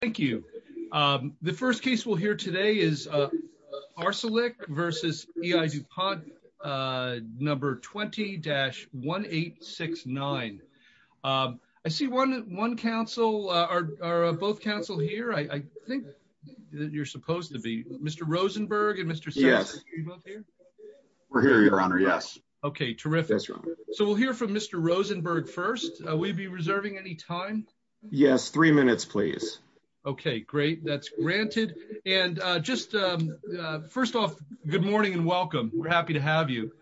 Thank you. The first case we'll hear today is Arcelik v. EI Dupont, number 20-1869. I see one council, or both council here, I think that you're supposed to be. Mr. Rosenberg and Mr. Sessions, are you both here? We're here, Your Honor, yes. Okay, terrific. So we'll hear from Mr. Rosenberg first. Will you be reserving any time? Yes, three minutes, please. Okay, great. That's granted. And just first off, good morning and welcome. We're happy to have you.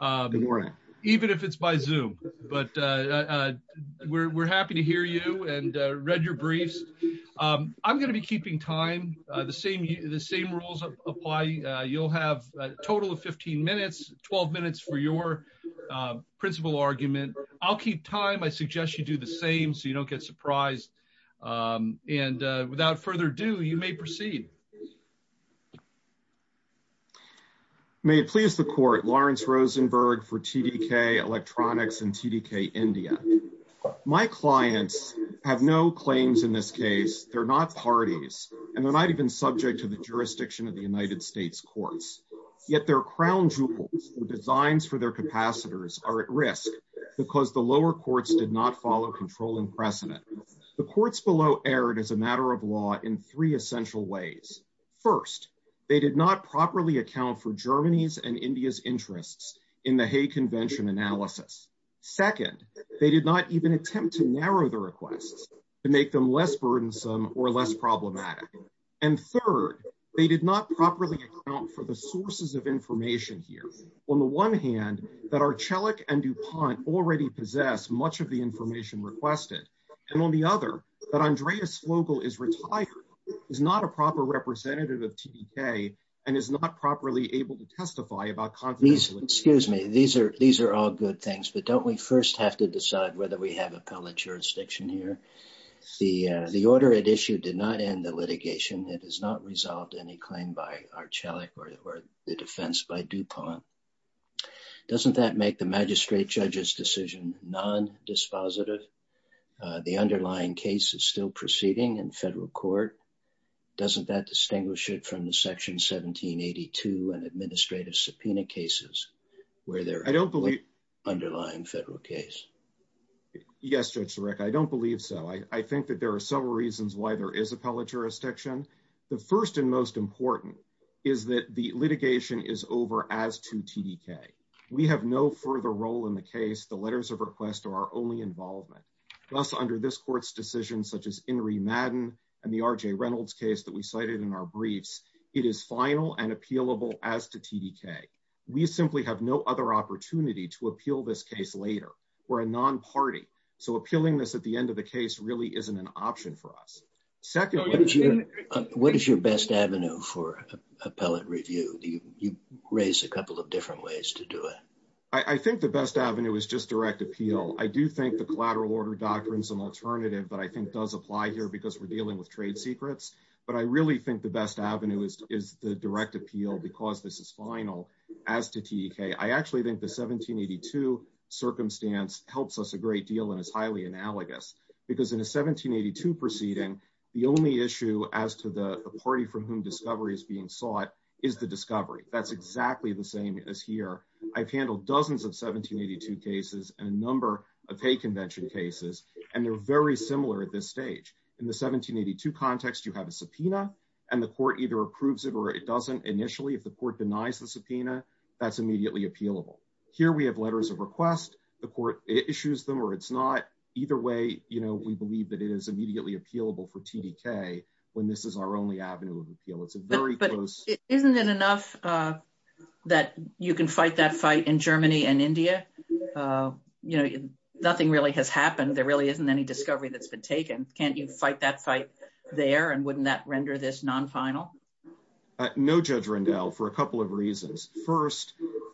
Good morning. Even if it's by Zoom, but we're happy to hear you and read your briefs. I'm going to be keeping time. The same rules apply. You'll have a total of 15 minutes, 12 minutes for your principal argument. I'll keep time, I suggest you do the same so you don't get surprised. And without further ado, you may proceed. May it please the Court, Lawrence Rosenberg for TDK Electronics and TDK India. My clients have no claims in this case. They're not parties, and they're not even subject to the jurisdiction of the United States courts. Yet their crown jewels and designs for their capacitors are at risk because the lower courts did not follow controlling precedent. The courts below erred as a matter of law in three essential ways. First, they did not properly account for Germany's and India's interests in the Hay Convention analysis. Second, they did not even attempt to narrow the requests to make them less burdensome or less problematic. And third, they did not properly account for the sources of information here. On the one hand, that Archelic and DuPont already possess much of the information requested. And on the other, that Andreas Vogel is retired, is not a proper representative of TDK, and is not properly able to testify about confidentiality. Excuse me, these are all good things, but don't we first have to decide whether we have appellate jurisdiction here? The order at issue did not end the litigation. It has not resolved any claim by Archelic or the defense by DuPont. Doesn't that make the magistrate judge's decision non-dispositive? The underlying case is still proceeding in federal court. Doesn't that distinguish it from the section 1782 and administrative subpoena cases where there is an underlying federal case? Yes, Judge Sarek, I don't believe so. I think that there are several reasons why there is appellate jurisdiction. The first and most important is that the litigation is over as to TDK. We have no further role in the case. The letters of request are our only involvement. Thus, under this court's decision, such as Inree Madden and the R.J. Reynolds case that we cited in our briefs, it is final and appealable as to TDK. We simply have no other opportunity to appeal this case later. We're a non-party, so appealing this at the end of the case really isn't an option for us. Secondly, what is your best avenue for appellate review? You raised a couple of different ways to do it. I think the best avenue is just direct appeal. I do think the collateral order doctrine is an alternative that I think does apply here because we're dealing with trade secrets, but I really think the best avenue is the direct appeal because this is final as to TDK. I actually think the 1782 circumstance helps us a great deal and is highly analogous because in a 1782 proceeding, the only issue as to the party from whom discovery is being sought is the discovery. That's exactly the same as here. I've handled dozens of 1782 cases and a number of Hay Convention cases, and they're very similar at this stage. In the 1782 context, you have a subpoena, and the court either approves it or it doesn't initially. If the court denies the subpoena, that's immediately appealable. Here, we have letters of request. The court issues them or either way, we believe that it is immediately appealable for TDK when this is our only avenue of appeal. It's a very close- Isn't it enough that you can fight that fight in Germany and India? Nothing really has happened. There really isn't any discovery that's been taken. Can't you fight that fight there, and wouldn't that render this non-final? No, Judge Rendell, for a couple of reasons. First,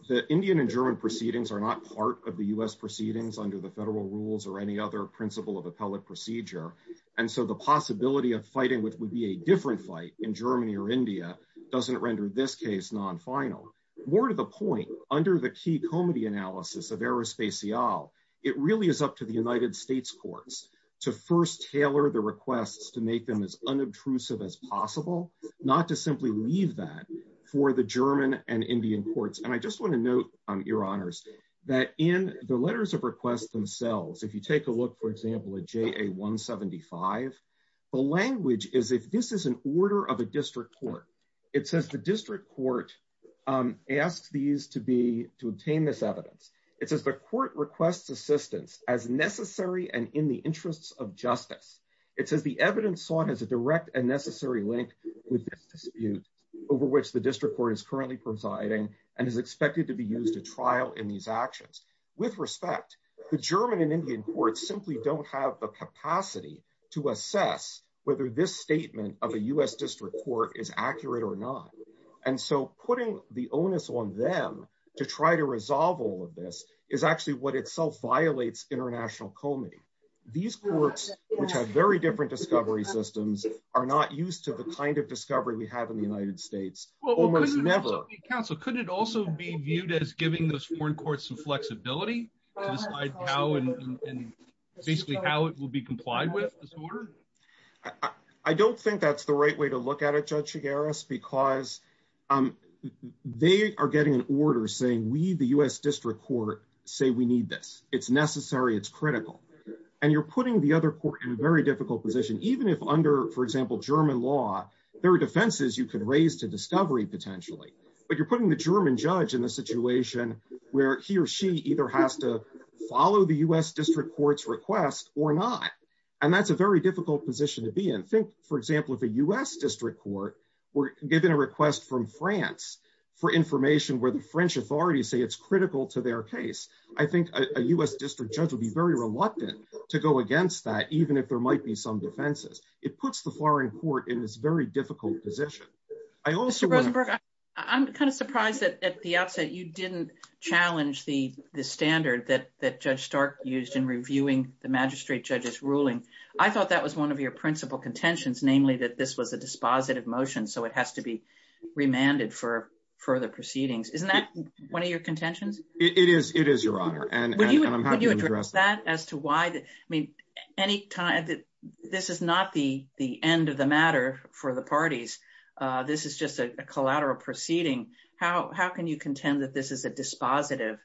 the Indian and German proceedings are part of the US proceedings under the federal rules or any other principle of appellate procedure, and so the possibility of fighting which would be a different fight in Germany or India doesn't render this case non-final. More to the point, under the key comity analysis of Aerospatiale, it really is up to the United States courts to first tailor the requests to make them as unobtrusive as possible, not to simply leave that for the German and Indian courts. I just want to your honors that in the letters of request themselves, if you take a look, for example, at JA 175, the language is if this is an order of a district court, it says the district court asks these to obtain this evidence. It says the court requests assistance as necessary and in the interests of justice. It says the evidence sought has a direct and necessary link with this dispute over which the district court is currently presiding and is expected to be a trial in these actions. With respect, the German and Indian courts simply don't have the capacity to assess whether this statement of a US district court is accurate or not, and so putting the onus on them to try to resolve all of this is actually what itself violates international comity. These courts, which have very different discovery systems, are not used to the kind of discovery we have in the United States. Well, almost never. Counsel, could it also be viewed as giving those foreign courts some flexibility to decide how and basically how it will be complied with this order? I don't think that's the right way to look at it, Judge Chigares, because they are getting an order saying we, the US district court, say we need this. It's necessary. It's critical. And you're putting the other court in a very difficult position, even if under, for example, German law, there are defenses you could raise to discovery, potentially, but you're putting the German judge in a situation where he or she either has to follow the US district court's request or not, and that's a very difficult position to be in. Think, for example, if a US district court were given a request from France for information where the French authorities say it's critical to their case, I think a US district judge would be very reluctant to go against that, even if there might be some defenses. It puts the foreign court in this very difficult position. Mr. Rosenberg, I'm kind of surprised that at the outset you didn't challenge the standard that Judge Stark used in reviewing the magistrate judge's ruling. I thought that was one of your principal contentions, namely that this was a dispositive motion, so it has to be remanded for further proceedings. Isn't that one of your contentions? It is, it is, Your Honor, and I'm happy to address that. This is not the end of the matter for the parties. This is just a collateral proceeding. How can you contend that this is a dispositive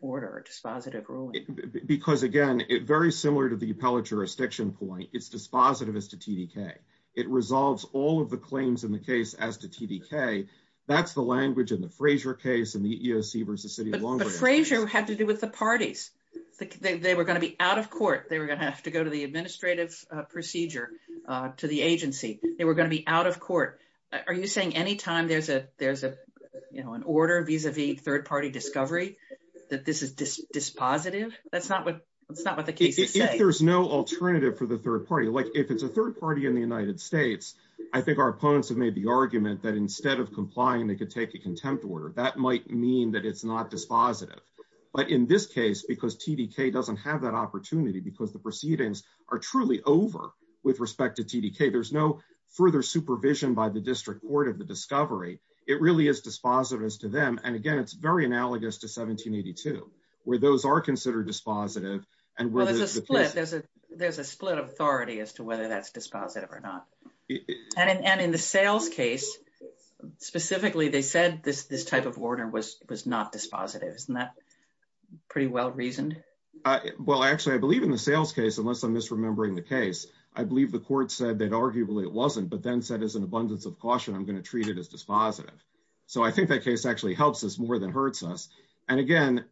order, a dispositive ruling? Because, again, very similar to the appellate jurisdiction point, it's dispositive as to TDK. It resolves all of the claims in the case as to TDK. That's the language in the Fraser case, the EOC versus the City of Long Beach. But Fraser had to do with the parties. They were going to be out of court. They were going to have to go to the administrative procedure to the agency. They were going to be out of court. Are you saying any time there's an order vis-a-vis third-party discovery that this is dispositive? That's not what the case is saying. If there's no alternative for the third party, like if it's a third party in the United States, I think our opponents have made the argument that instead of complying, they could take a contempt order. That might mean that it's not dispositive. But in this case, because TDK doesn't have that opportunity, because the proceedings are truly over with respect to TDK, there's no further supervision by the district court of the discovery. It really is dispositive as to them. And, again, it's very analogous to 1782, where those are considered dispositive and where there's a split. There's a split of authority as to whether that's dispositive or not. And in the Sales case, specifically, they said this type of order was not dispositive. Isn't that pretty well-reasoned? Well, actually, I believe in the Sales case, unless I'm misremembering the case, I believe the court said that arguably it wasn't, but then said as an abundance of caution, I'm going to treat it as dispositive. So I think that case actually helps us more than hurts us. And, again,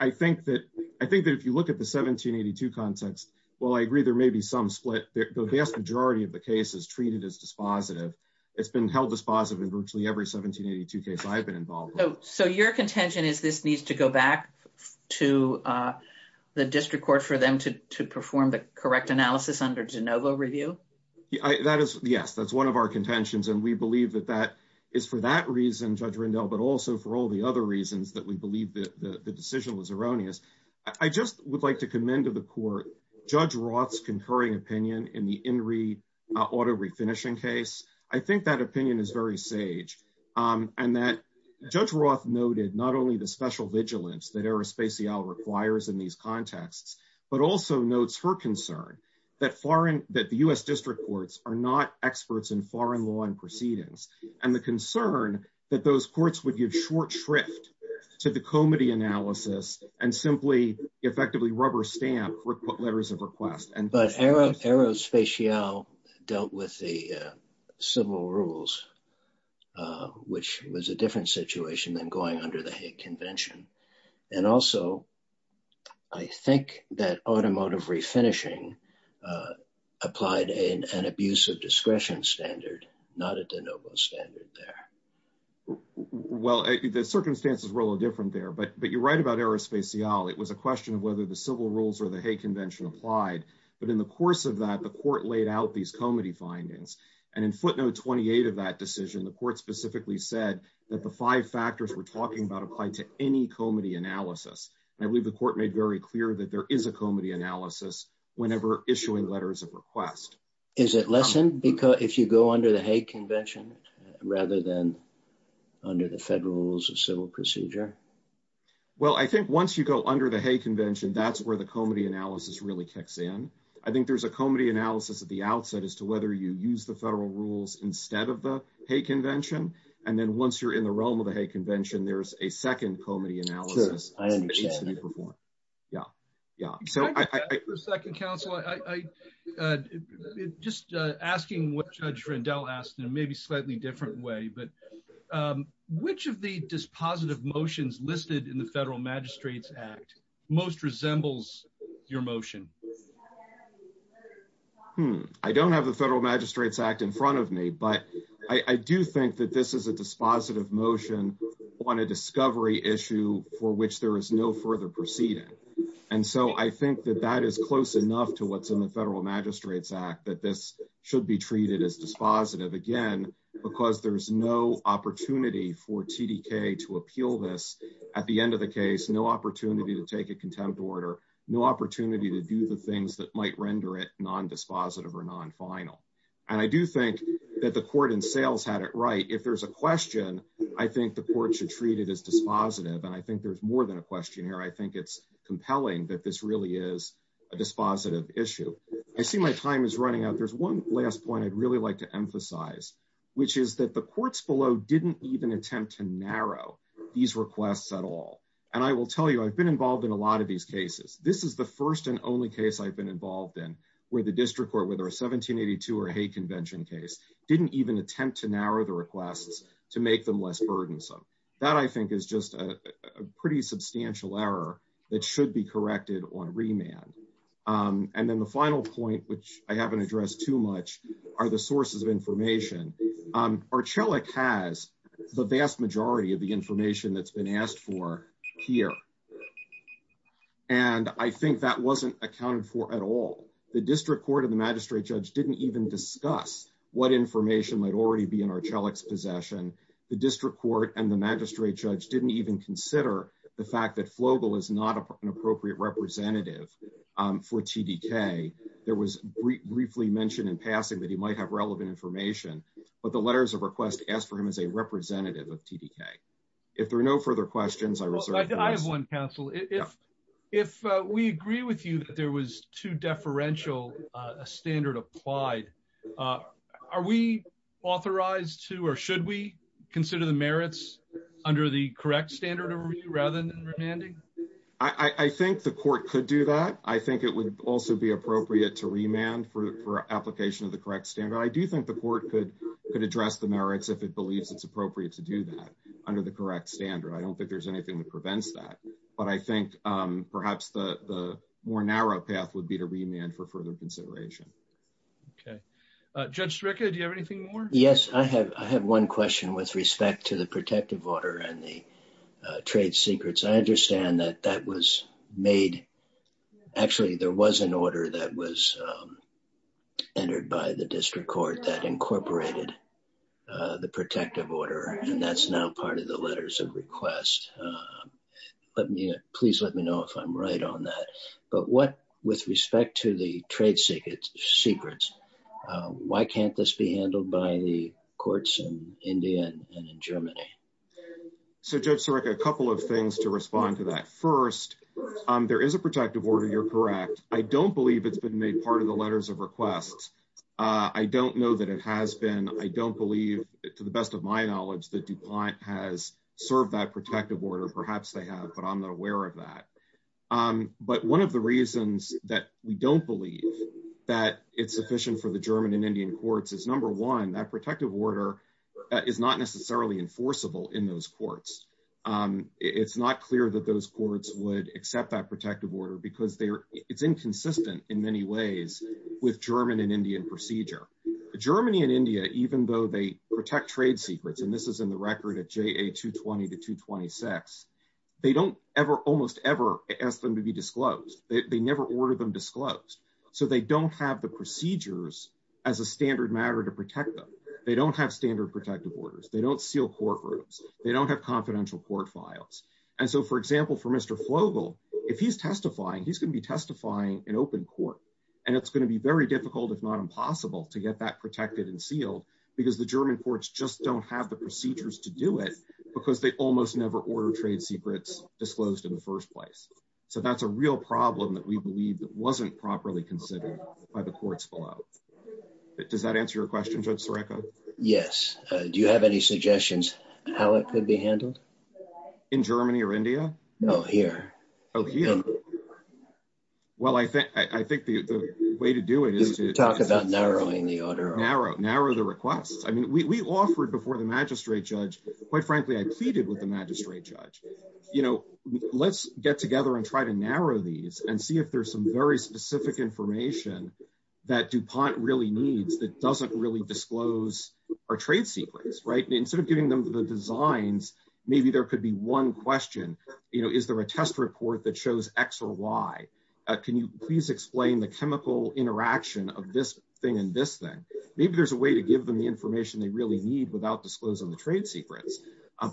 I think that if you look at the 1782 context, while I agree there may be some split, the vast majority of the case is treated as dispositive. It's been held dispositive in virtually every 1782 case I've been involved with. So your contention is this needs to go back to the district court for them to perform the correct analysis under de novo review? Yes, that's one of our contentions. And we believe that that is for that reason, Judge Rindell, but also for all the other reasons that we believe that the decision was erroneous. I just would like to commend to the court Judge Roth's concurring opinion in the Enri auto refinishing case. I think that opinion is very sage, and that Judge Roth noted not only the special vigilance that Aerospatiale requires in these contexts, but also notes her concern that the U.S. district courts are not experts in foreign law and proceedings, and the concern that those courts would give short shrift to the comity analysis and simply effectively rubber stamp letters of request. But Aerospatiale dealt with the civil rules, which was a different situation than going under the Hague Convention. And also, I think that automotive refinishing applied an abuse of discretion standard, not a de novo standard there. Well, the circumstances were a little different there, but you're right about Aerospatiale. It was a question of whether the civil rules or the Hague Convention applied. But in the course of that, the court laid out these comity findings. And in footnote 28 of that decision, the court specifically said that the five factors we're talking about applied to any comity analysis. And I believe the court made very clear that there is a comity analysis whenever issuing letters of request. Is it lessened if you go under the Hague Convention rather than under the federal rules of civil procedure? Well, I think once you go under the Hague Convention, that's where the comity analysis really kicks in. I think there's a comity analysis at the outset as to whether you use the federal rules instead of the Hague Convention. And then once you're in the realm of the Hague Convention, there's a second comity analysis that needs to be performed. Yeah. Yeah. Yeah. So I... Can I just ask for a second, counsel? Just asking what Judge Rendell asked in a maybe slightly different way, but which of the dispositive motions listed in the Federal Magistrates Act most resembles your motion? I don't have the Federal Magistrates Act in front of me, but I do think that this is a And so I think that that is close enough to what's in the Federal Magistrates Act, that this should be treated as dispositive, again, because there's no opportunity for TDK to appeal this. At the end of the case, no opportunity to take a contempt order, no opportunity to do the things that might render it non-dispositive or non-final. And I do think that the court in sales had it right. If there's a question, I think the court should treat it as dispositive. And I think there's more than a question here. I think it's compelling that this really is a dispositive issue. I see my time is running out. There's one last point I'd really like to emphasize, which is that the courts below didn't even attempt to narrow these requests at all. And I will tell you, I've been involved in a lot of these cases. This is the first and only case I've been involved in where the district court, whether a 1782 or Hague Convention case, didn't even attempt to narrow the requests to make them less burdensome. That, I think, is just a pretty substantial error that should be corrected on remand. And then the final point, which I haven't addressed too much, are the sources of information. Archelic has the vast majority of the information that's been asked for here. And I think that wasn't accounted for at all. The district court and the magistrate judge didn't even discuss what information might already be in Archelic's possession. The district court and the magistrate judge didn't even consider the fact that Flogel is not an appropriate representative for TDK. There was briefly mentioned in passing that he might have relevant information, but the letters of request asked for him as a representative of TDK. If there are no further questions, I reserve the rest. I have one, counsel. If we agree with you that there was two deferential standard applied, are we authorized to or should we consider the merits under the correct standard rather than remanding? I think the court could do that. I think it would also be appropriate to remand for application of the correct standard. I do think the court could address the merits if it believes it's appropriate to do that under the correct standard. I don't think there's anything that prevents that. But I think perhaps the more path would be to remand for further consideration. Okay. Judge Stryka, do you have anything more? Yes, I have. I have one question with respect to the protective order and the trade secrets. I understand that that was made. Actually, there was an order that was entered by the district court that incorporated the protective order, and that's now part of letters of request. Please let me know if I'm right on that. But with respect to the trade secrets, why can't this be handled by the courts in India and in Germany? So, Judge Stryka, a couple of things to respond to that. First, there is a protective order. You're correct. I don't believe it's been made part of the letters of request. I don't know that it has been. I don't believe, to the best of my knowledge, that DuPont has served that protective order. Perhaps they have, but I'm not aware of that. But one of the reasons that we don't believe that it's sufficient for the German and Indian courts is, number one, that protective order is not necessarily enforceable in those courts. It's not clear that those courts would accept that protective order because it's inconsistent in many ways with German and Indian laws. Germany and India, even though they protect trade secrets, and this is in the record of JA 220 to 226, they don't almost ever ask them to be disclosed. They never order them disclosed. So, they don't have the procedures as a standard matter to protect them. They don't have standard protective orders. They don't seal courtrooms. They don't have confidential court files. And so, for example, for Mr. Fogel, if he's testifying, he's going to be testifying in because the German courts just don't have the procedures to do it because they almost never order trade secrets disclosed in the first place. So, that's a real problem that we believe that wasn't properly considered by the courts below. Does that answer your question, Judge Sarekha? Yes. Do you have any suggestions how it could be handled? In Germany or India? No, here. Well, I think the way to do it is to... Talk about narrowing the order. Narrow the requests. I mean, we offered before the magistrate judge, quite frankly, I pleaded with the magistrate judge, you know, let's get together and try to narrow these and see if there's some very specific information that DuPont really needs that doesn't really disclose our trade secrets, right? Instead of giving them the designs, maybe there could be one question, you know, is there a test report that shows X or Y? Can you please explain the Maybe there's a way to give them the information they really need without disclosing the trade secrets.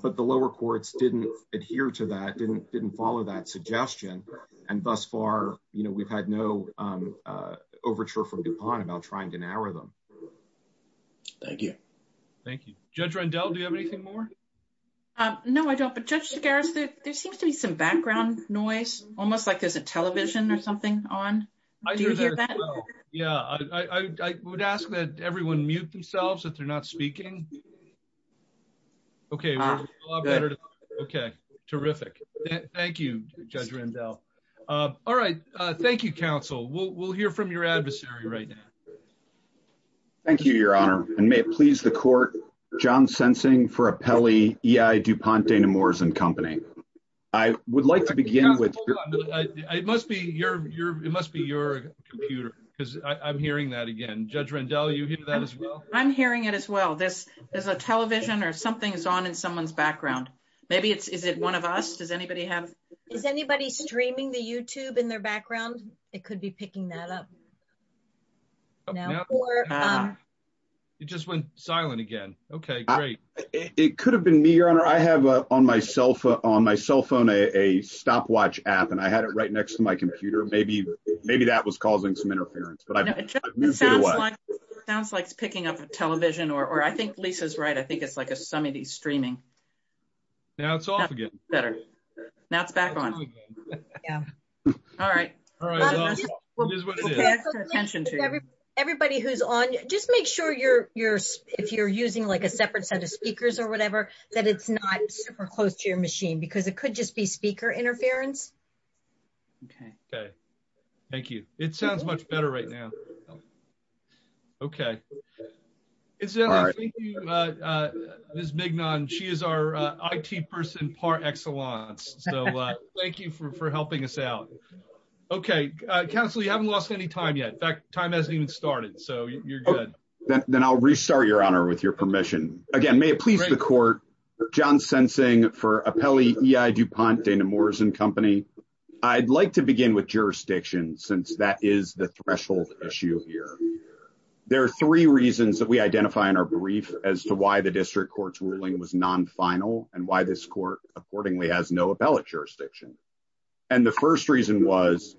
But the lower courts didn't adhere to that, didn't follow that suggestion. And thus far, you know, we've had no overture from DuPont about trying to narrow them. Thank you. Thank you. Judge Rendell, do you have anything more? No, I don't. But Judge Segarra, there seems to be some background noise, almost like there's a television or something on. Do you hear that? Yeah, I would ask that everyone mute themselves if they're not speaking. Okay. Okay, terrific. Thank you, Judge Rendell. All right. Thank you, counsel. We'll hear from your adversary right now. Thank you, Your Honor, and may it please the court, John Sensing for Apelli E.I. DuPont Dana-Moores and Company. I would like to begin with It must be your computer because I'm hearing that again. Judge Rendell, you hear that as well? I'm hearing it as well. There's a television or something's on in someone's background. Maybe it's is it one of us? Does anybody have? Is anybody streaming the YouTube in their background? It could be picking that up. It just went silent again. Okay, great. It could have been me, Your Honor. I have on my cell phone a stopwatch app, and I had it right next to my computer. Maybe that was causing some interference. Sounds like it's picking up a television, or I think Lisa's right. I think it's like a somebody streaming. Now it's off again. Better. Now it's back on. All right. We'll pay extra attention to you. Everybody who's on, just make sure if you're using like a separate set of speakers or whatever, that it's not super close to your machine because it could just be speaker interference. Okay, thank you. It sounds much better right now. Okay. Thank you, Ms. Mignon. She is our IT person par excellence, so thank you for helping us out. Okay, Counselor, you haven't lost any time yet. In fact, time hasn't even started, so you're good. Then I'll restart, Your Honor, with your permission. Again, may it please the court, John Sensing for Apelli EI DuPont Dana Morrison Company. I'd like to begin with jurisdiction since that is the threshold issue here. There are three reasons that we identify in our brief as to why the district court's ruling was non-final and why this court accordingly has no appellate jurisdiction. The first reason was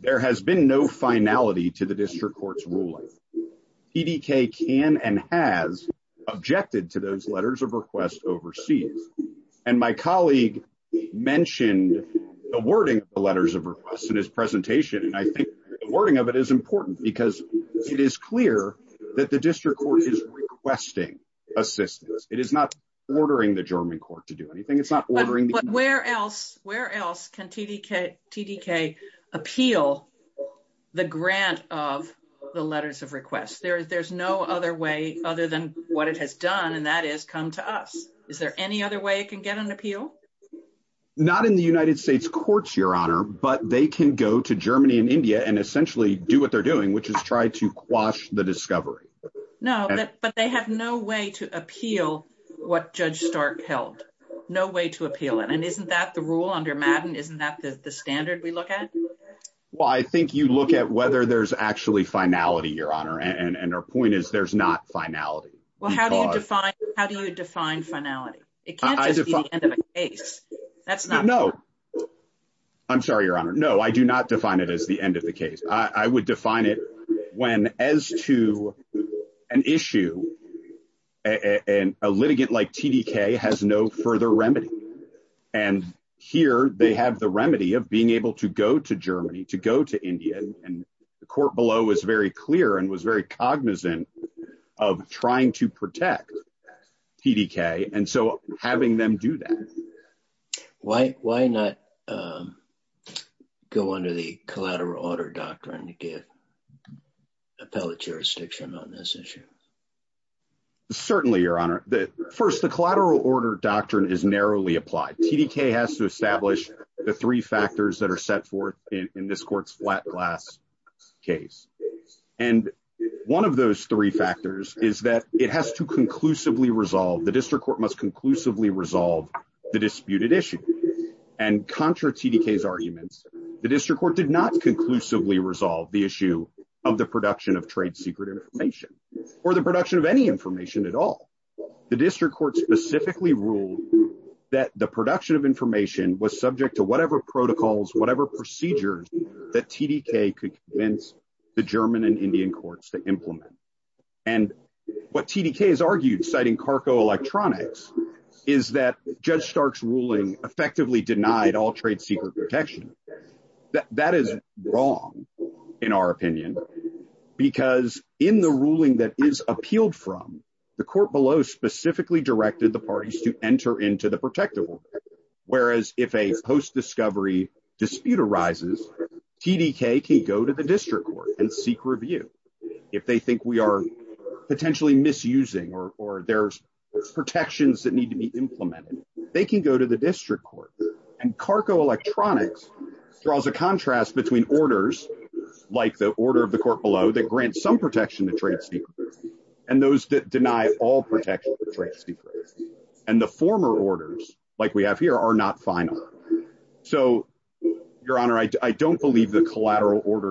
there has been no finality to the district court's ruling. PDK can and has objected to those letters of request overseas. My colleague mentioned the wording of the letters of request in his presentation. I think the wording of it is important because it is clear that the district court is requesting assistance. It is not ordering the German court to do anything. It's not ordering. But where else can TDK appeal the grant of the letters of request? There's no other way other than what it has done, and that is come to us. Is there any other way it can get an appeal? Not in the United States courts, Your Honor, but they can go to Germany and India and essentially do what they're doing, which is try to quash the discovery. But they have no way to appeal what Judge Stark held. No way to appeal it. Isn't that the rule under Madden? Isn't that the standard we look at? Well, I think you look at whether there's actually finality, Your Honor, and our point is there's not finality. Well, how do you define finality? It can't just be the end of a case. No. I'm sorry, Your Honor. No, I do not define it as the end of the case. I would define it when as to an issue and a litigant like TDK has no further remedy. And here they have the remedy of being able to go to Germany, to go to India, and the court below was very clear and was very clear. Why not go under the collateral order doctrine to give appellate jurisdiction on this issue? Certainly, Your Honor. First, the collateral order doctrine is narrowly applied. TDK has to establish the three factors that are set forth in this court's flat glass case. And one of those three factors is that it has to conclusively resolve, the district court must conclusively resolve the disputed issue. And contra TDK's arguments, the district court did not conclusively resolve the issue of the production of trade secret information, or the production of any information at all. The district court specifically ruled that the production of information was subject to whatever protocols, whatever procedures that TDK could convince the German and Indian judge Stark's ruling effectively denied all trade secret protection. That is wrong, in our opinion, because in the ruling that is appealed from the court below specifically directed the parties to enter into the protective order. Whereas if a post discovery dispute arises, TDK can go to the district court and seek review. If they think we are potentially misusing or there's protections that need to be implemented, they can go to the district court. And Carco Electronics draws a contrast between orders, like the order of the court below that grants some protection to trade secrets, and those that deny all protection to trade secrets. And the former orders like we have here are not final. So, Your Honor, I don't believe the collateral order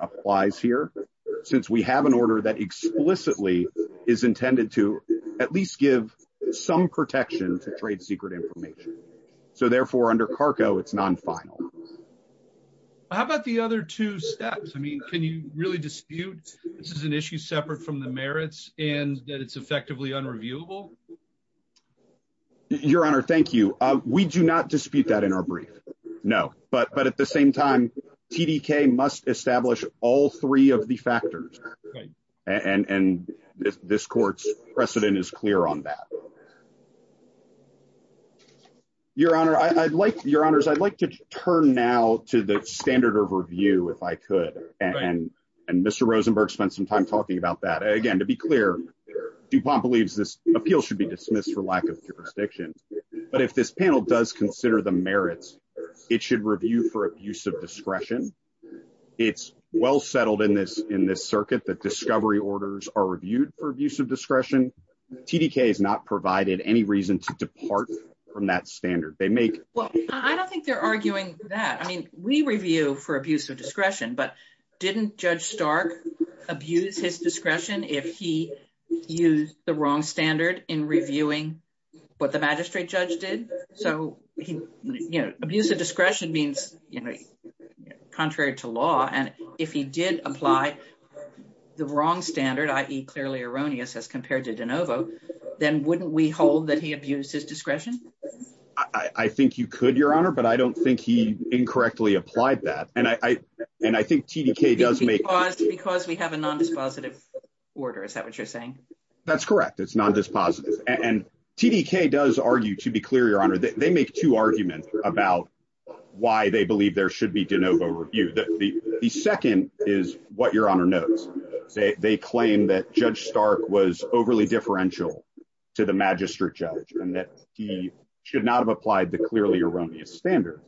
applies here, since we have an order that explicitly is intended to at least give some protection to trade secret information. So, therefore, under Carco, it's non-final. How about the other two steps? I mean, can you really dispute this is an issue separate from the merits and that it's effectively unreviewable? Your Honor, thank you. We do not dispute that in our brief. No. But at the same time, TDK must establish all three of the factors. And this court's precedent is clear on that. Your Honor, I'd like to turn now to the standard of review, if I could. And Mr. Rosenberg spent some time talking about that. Again, to be clear, DuPont believes this appeal should be dismissed for lack of jurisdiction. But if this merits, it should review for abuse of discretion. It's well settled in this circuit that discovery orders are reviewed for abuse of discretion. TDK has not provided any reason to depart from that standard. I don't think they're arguing that. I mean, we review for abuse of discretion, but didn't Judge Stark abuse his discretion if he used the wrong standard in reviewing what the magistrate judge did? So abuse of discretion means contrary to law. And if he did apply the wrong standard, i.e. clearly erroneous as compared to DeNovo, then wouldn't we hold that he abused his discretion? I think you could, Your Honor, but I don't think he incorrectly applied that. And I think TDK does make... Because we have a non-dispositive order, is that what you're saying? That's correct. It's non-dispositive. And TDK does argue, to be clear, Your Honor, that they make two arguments about why they believe there should be DeNovo reviewed. The second is what Your Honor knows. They claim that Judge Stark was overly differential to the magistrate judge and that he should not have applied the clearly erroneous standard.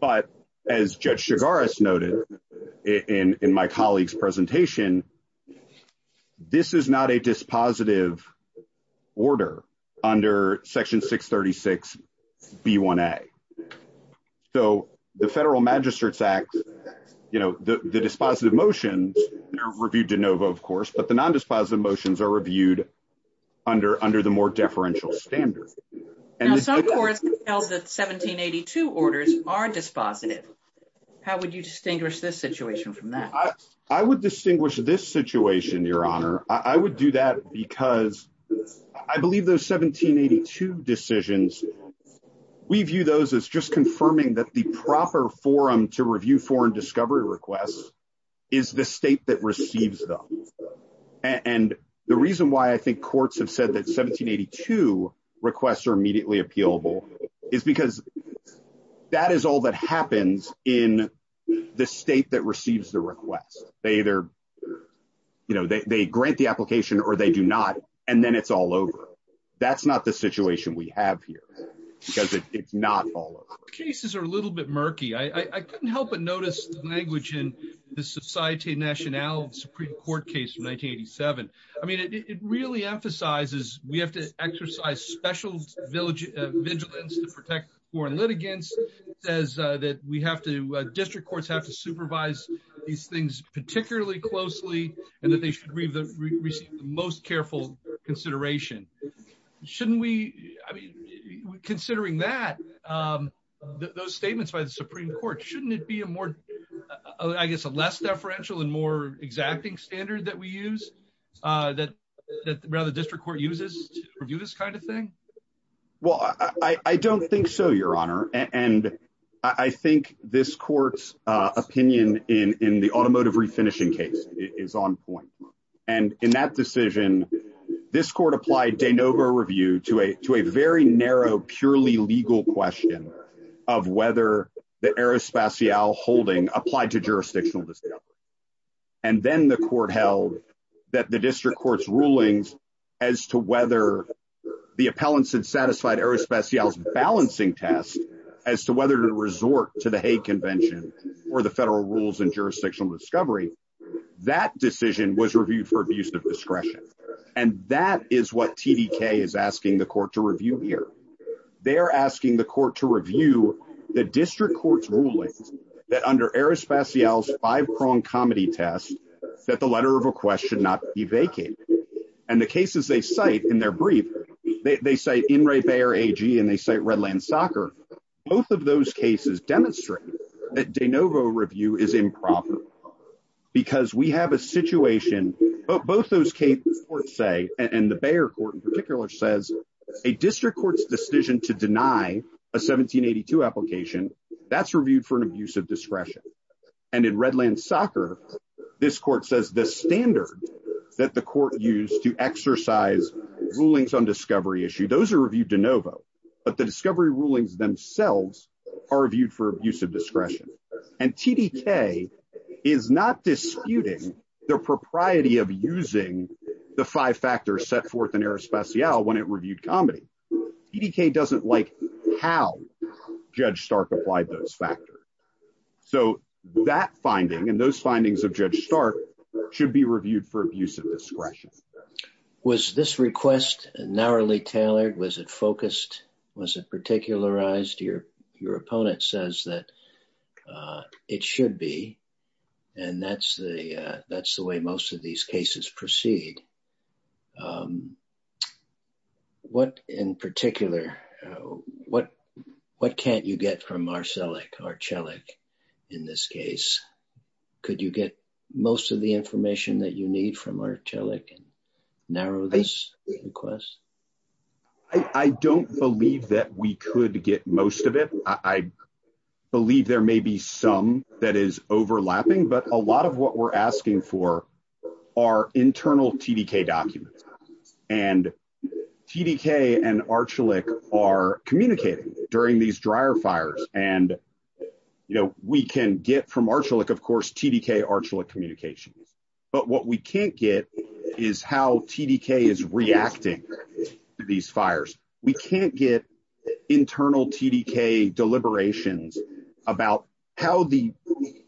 But as Judge Chigaris noted in my colleague's presentation, this is not a dispositive order under Section 636B1A. So the Federal Magistrates Act, the dispositive motions, they're reviewed DeNovo, of course, but the non-dispositive motions are reviewed under the more deferential standard. Now, some courts tell that 1782 orders are dispositive. How would you distinguish this situation from that? I would distinguish this situation, Your Honor. I would do that because I believe those 1782 decisions, we view those as just confirming that the proper forum to review foreign discovery requests is the state that receives them. And the reason why I think courts have said that 1782 requests are immediately appealable is because that is all that happens in the state that receives the request. They either, you know, they grant the application or they do not, and then it's all over. That's not the situation we have here because it's not all over. Cases are a little bit murky. I couldn't help but Supreme Court case from 1987. I mean, it really emphasizes we have to exercise special vigilance to protect foreign litigants. It says that we have to, district courts have to supervise these things particularly closely and that they should receive the most careful consideration. Shouldn't we, I mean, considering that, those statements by the Supreme Court, shouldn't it be a more, I guess, a less deferential and more exacting standard that we use, that the district court uses to review this kind of thing? Well, I don't think so, Your Honor. And I think this court's opinion in the automotive refinishing case is on point. And in that decision, this court applied de novo review to a very narrow, purely legal question of whether the Aerospatiale holding applied to jurisdictional discovery. And then the court held that the district court's rulings as to whether the appellants had satisfied Aerospatiale's balancing test as to whether to resort to the Hague Convention or the federal rules in jurisdictional discovery, that decision was reviewed for abuse of discretion. And that is what TDK is asking the court to review here. They are asking the court to review the district court's rulings that under Aerospatiale's five-pronged comedy test, that the letter of request should not be vacated. And the cases they cite in their brief, they cite In re Bayer AG and they cite Redland Soccer, both of those cases demonstrate that de novo review is improper. Because we have a situation, both those cases say, and the Bayer court in particular says, a district court's decision to deny a 1782 application, that's reviewed for an abuse of discretion. And in Redland Soccer, this court says the standard that the court used to exercise rulings on discovery issue, those are reviewed de novo, but the discovery rulings themselves are reviewed for abuse of discretion. And TDK is not disputing their propriety of using the five factors set forth in Aerospatiale when it reviewed comedy. TDK doesn't like how Judge Stark applied those factors. So that finding and those findings of Judge Stark should be reviewed for abuse of discretion. Was this request narrowly tailored? Was it focused? Was it particularized? Your opponent says that it should be. And that's the way most of these cases proceed. What in particular, what can't you get from Arcelec in this case? Could you get most of the information that you can narrow this request? I don't believe that we could get most of it. I believe there may be some that is overlapping, but a lot of what we're asking for are internal TDK documents. And TDK and Arcelec are communicating during these dryer fires. And we can get from Arcelec, TDK, Arcelec communications. But what we can't get is how TDK is reacting to these fires. We can't get internal TDK deliberations about how the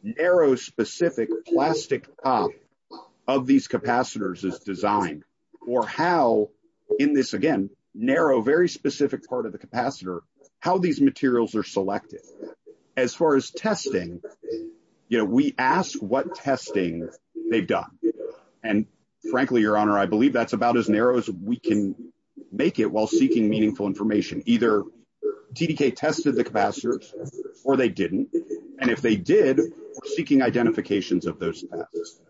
narrow specific plastic of these capacitors is designed or how in this again, narrow, very specific part of the capacitor, how these materials are selected. As far as testing, we ask what testing they've done. And frankly, your honor, I believe that's about as narrow as we can make it while seeking meaningful information. Either TDK tested the capacitors or they didn't. And if they did, seeking identifications of those tests.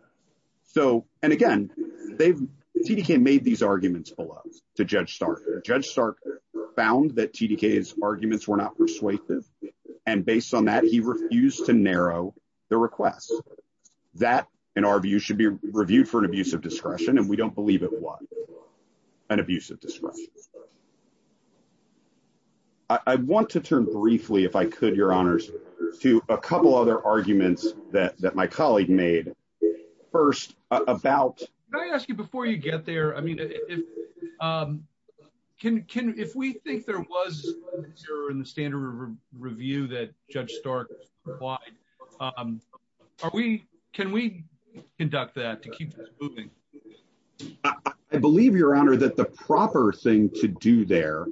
So, and again, TDK made these arguments below to Judge Stark. Judge Stark found that TDK's persuasive. And based on that, he refused to narrow the request that in our view should be reviewed for an abuse of discretion. And we don't believe it was an abuse of discretion. I want to turn briefly, if I could, your honors, to a couple other arguments that my colleague made first about... Can I ask you before you get there, I mean, if we think there was zero in the standard review that Judge Stark applied, can we conduct that to keep this moving? I believe your honor that the proper thing to do there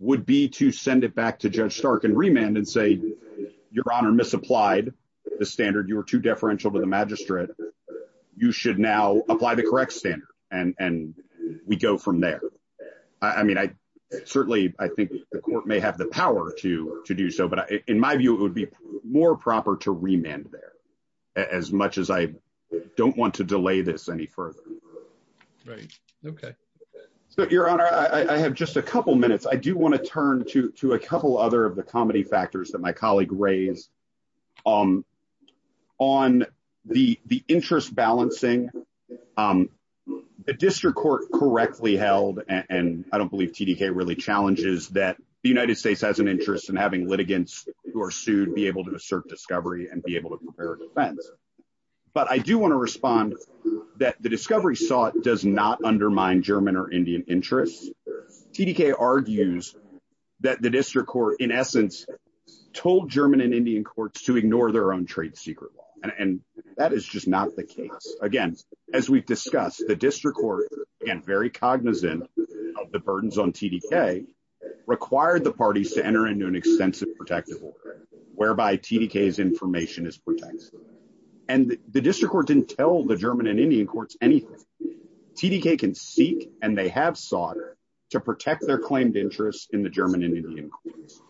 would be to send it back to Judge Stark and remand and say, your honor misapplied the standard, you were too deferential to the magistrate. You should now apply the correct standard and we go from there. I mean, I certainly, I think the court may have the power to do so, but in my view, it would be more proper to remand there as much as I don't want to delay this any further. Right. Okay. So your honor, I have just a couple minutes. I do want to turn to a couple other of the arguments that my colleague raised. On the interest balancing, the district court correctly held, and I don't believe TDK really challenges that the United States has an interest in having litigants who are sued be able to assert discovery and be able to prepare defense. But I do want to respond that the discovery sought does not undermine German or Indian interests. TDK argues that the district court, in essence, told German and Indian courts to ignore their own trade secret law. And that is just not the case. Again, as we've discussed, the district court, again, very cognizant of the burdens on TDK, required the parties to enter into an extensive protective order, whereby TDK's information is protected. And the district court didn't tell the German and Indian courts anything. TDK can seek, and they have sought, to protect their claimed interests in the German and Indian courts.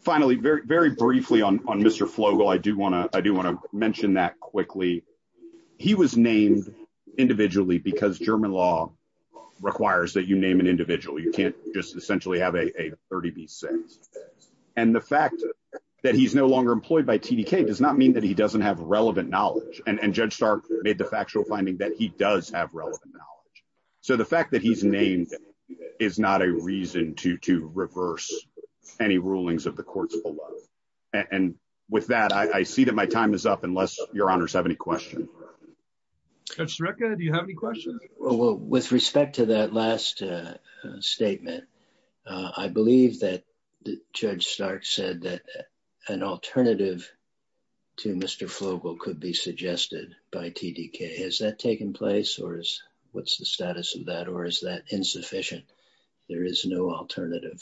Finally, very briefly on Mr. Flogel, I do want to mention that quickly. He was named individually because German law requires that you name an individual. You can't just essentially have a 30 B6. And the fact that he's no longer employed by TDK does not mean that he doesn't have relevant knowledge. And Judge Stark made the factual finding that he does have relevant knowledge. So the fact that he's named is not a reason to reverse any rulings of the courts below. And with that, I see that my time is up, unless your honors have any questions. Judge Sreka, do you have any questions? With respect to that last statement, I believe that Judge Stark said that an alternative to Mr. Flogel could be suggested by TDK. Has that taken place, or what's the status of that, or is that insufficient? There is no alternative.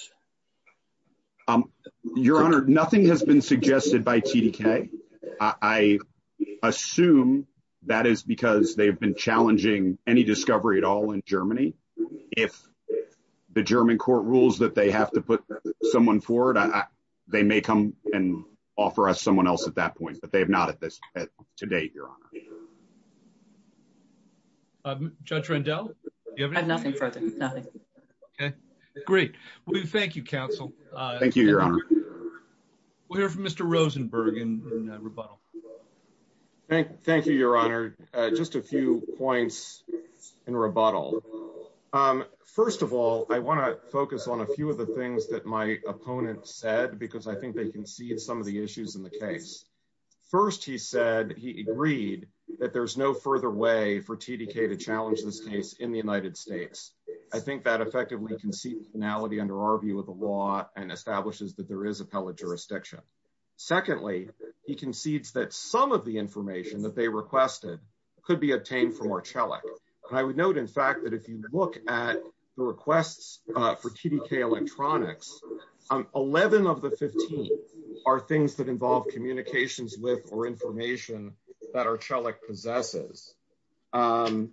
Your honor, nothing has been suggested by TDK. I assume that is because they've been challenging any discovery at all in Germany. If the German court rules that they have to put someone forward, they may come and offer us someone else at that point. But they have not at this to date, your honor. Judge Rendell, do you have anything? I have nothing further, nothing. Okay, great. Well, thank you, counsel. Thank you, your honor. We'll hear from Mr. Rosenberg in rebuttal. Thank you, your honor. Just a few points in rebuttal. First of all, I want to focus on a because I think they concede some of the issues in the case. First, he said he agreed that there's no further way for TDK to challenge this case in the United States. I think that effectively concedes finality under our view of the law and establishes that there is appellate jurisdiction. Secondly, he concedes that some of the information that they requested could be obtained from 11 of the 15 are things that involve communications with or information that Archelic possesses. And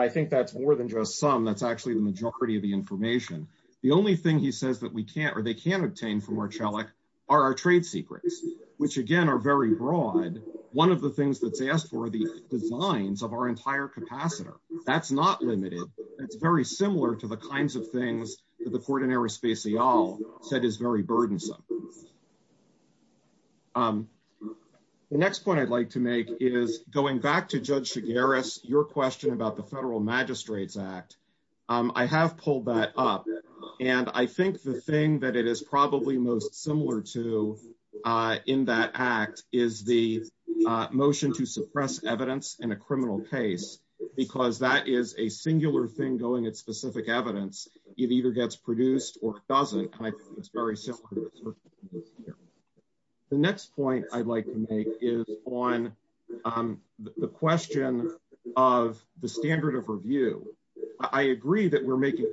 I think that's more than just some, that's actually the majority of the information. The only thing he says that we can't or they can't obtain from Archelic are our trade secrets, which again, are very broad. One of the things that's asked for the designs of our entire capacitor, that's not limited. It's very similar to the kinds of said is very burdensome. The next point I'd like to make is going back to judge Shigaris, your question about the federal magistrates act. I have pulled that up and I think the thing that it is probably most similar to in that act is the motion to suppress evidence in a criminal case, because that is a singular thing going at specific evidence. It either gets produced or it doesn't. The next point I'd like to make is on the question of the standard of review. I agree that we're making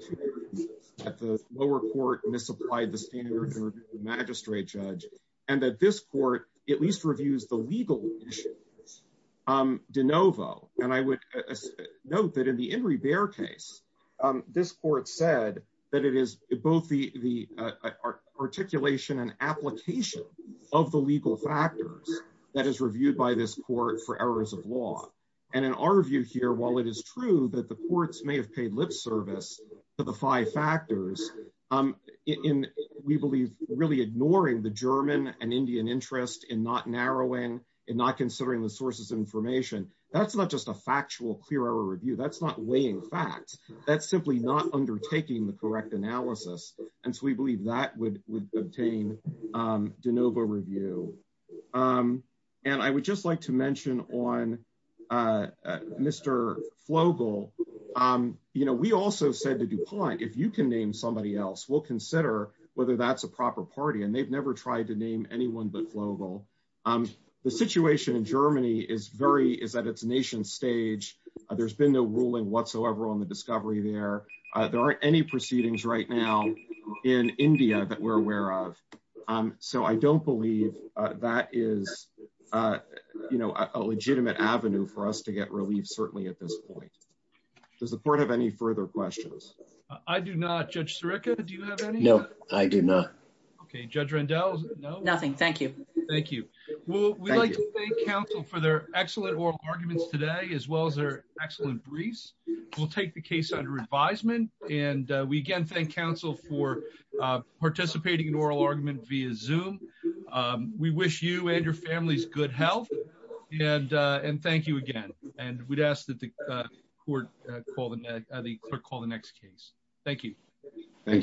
at the lower court misapplied, the standard magistrate judge, and that this court at least reviews the legal issues de novo. And I would note that in the Inri Baer case, this court said that it is both the articulation and application of the legal factors that is reviewed by this court for errors of law. And in our view here, while it is true that the courts may have paid lip service to the five factors in, we believe really ignoring the German and Indian interest in not narrowing and not considering the sources of information, that's not just a factual clear error review. That's not weighing facts. That's simply not undertaking the correct analysis. And so we believe that would obtain de novo review. And I would just like to mention on Mr. Flogel, we also said to DuPont, if you can name somebody else, we'll consider whether that's a proper party. And they've never tried to name anyone but Flogel. The situation in Germany is very, is at its nation stage. There's been no ruling whatsoever on the discovery there. There aren't any proceedings right now in India that we're aware of. So I don't believe that is a legitimate avenue for us to get relief certainly at this point. Does the court have any further questions? I do not. Judge Sirica, do you have any? No, I do not. Okay. Judge Rendell, no? Nothing. Thank you. Thank you. Well, we'd like to thank counsel for their excellent oral arguments today, as well as their excellent briefs. We'll take the case under advisement. And we again thank counsel for participating in oral argument via Zoom. We wish you and your families good health. And thank you again. And we'd ask that the court call the next case. Thank you. Thank you.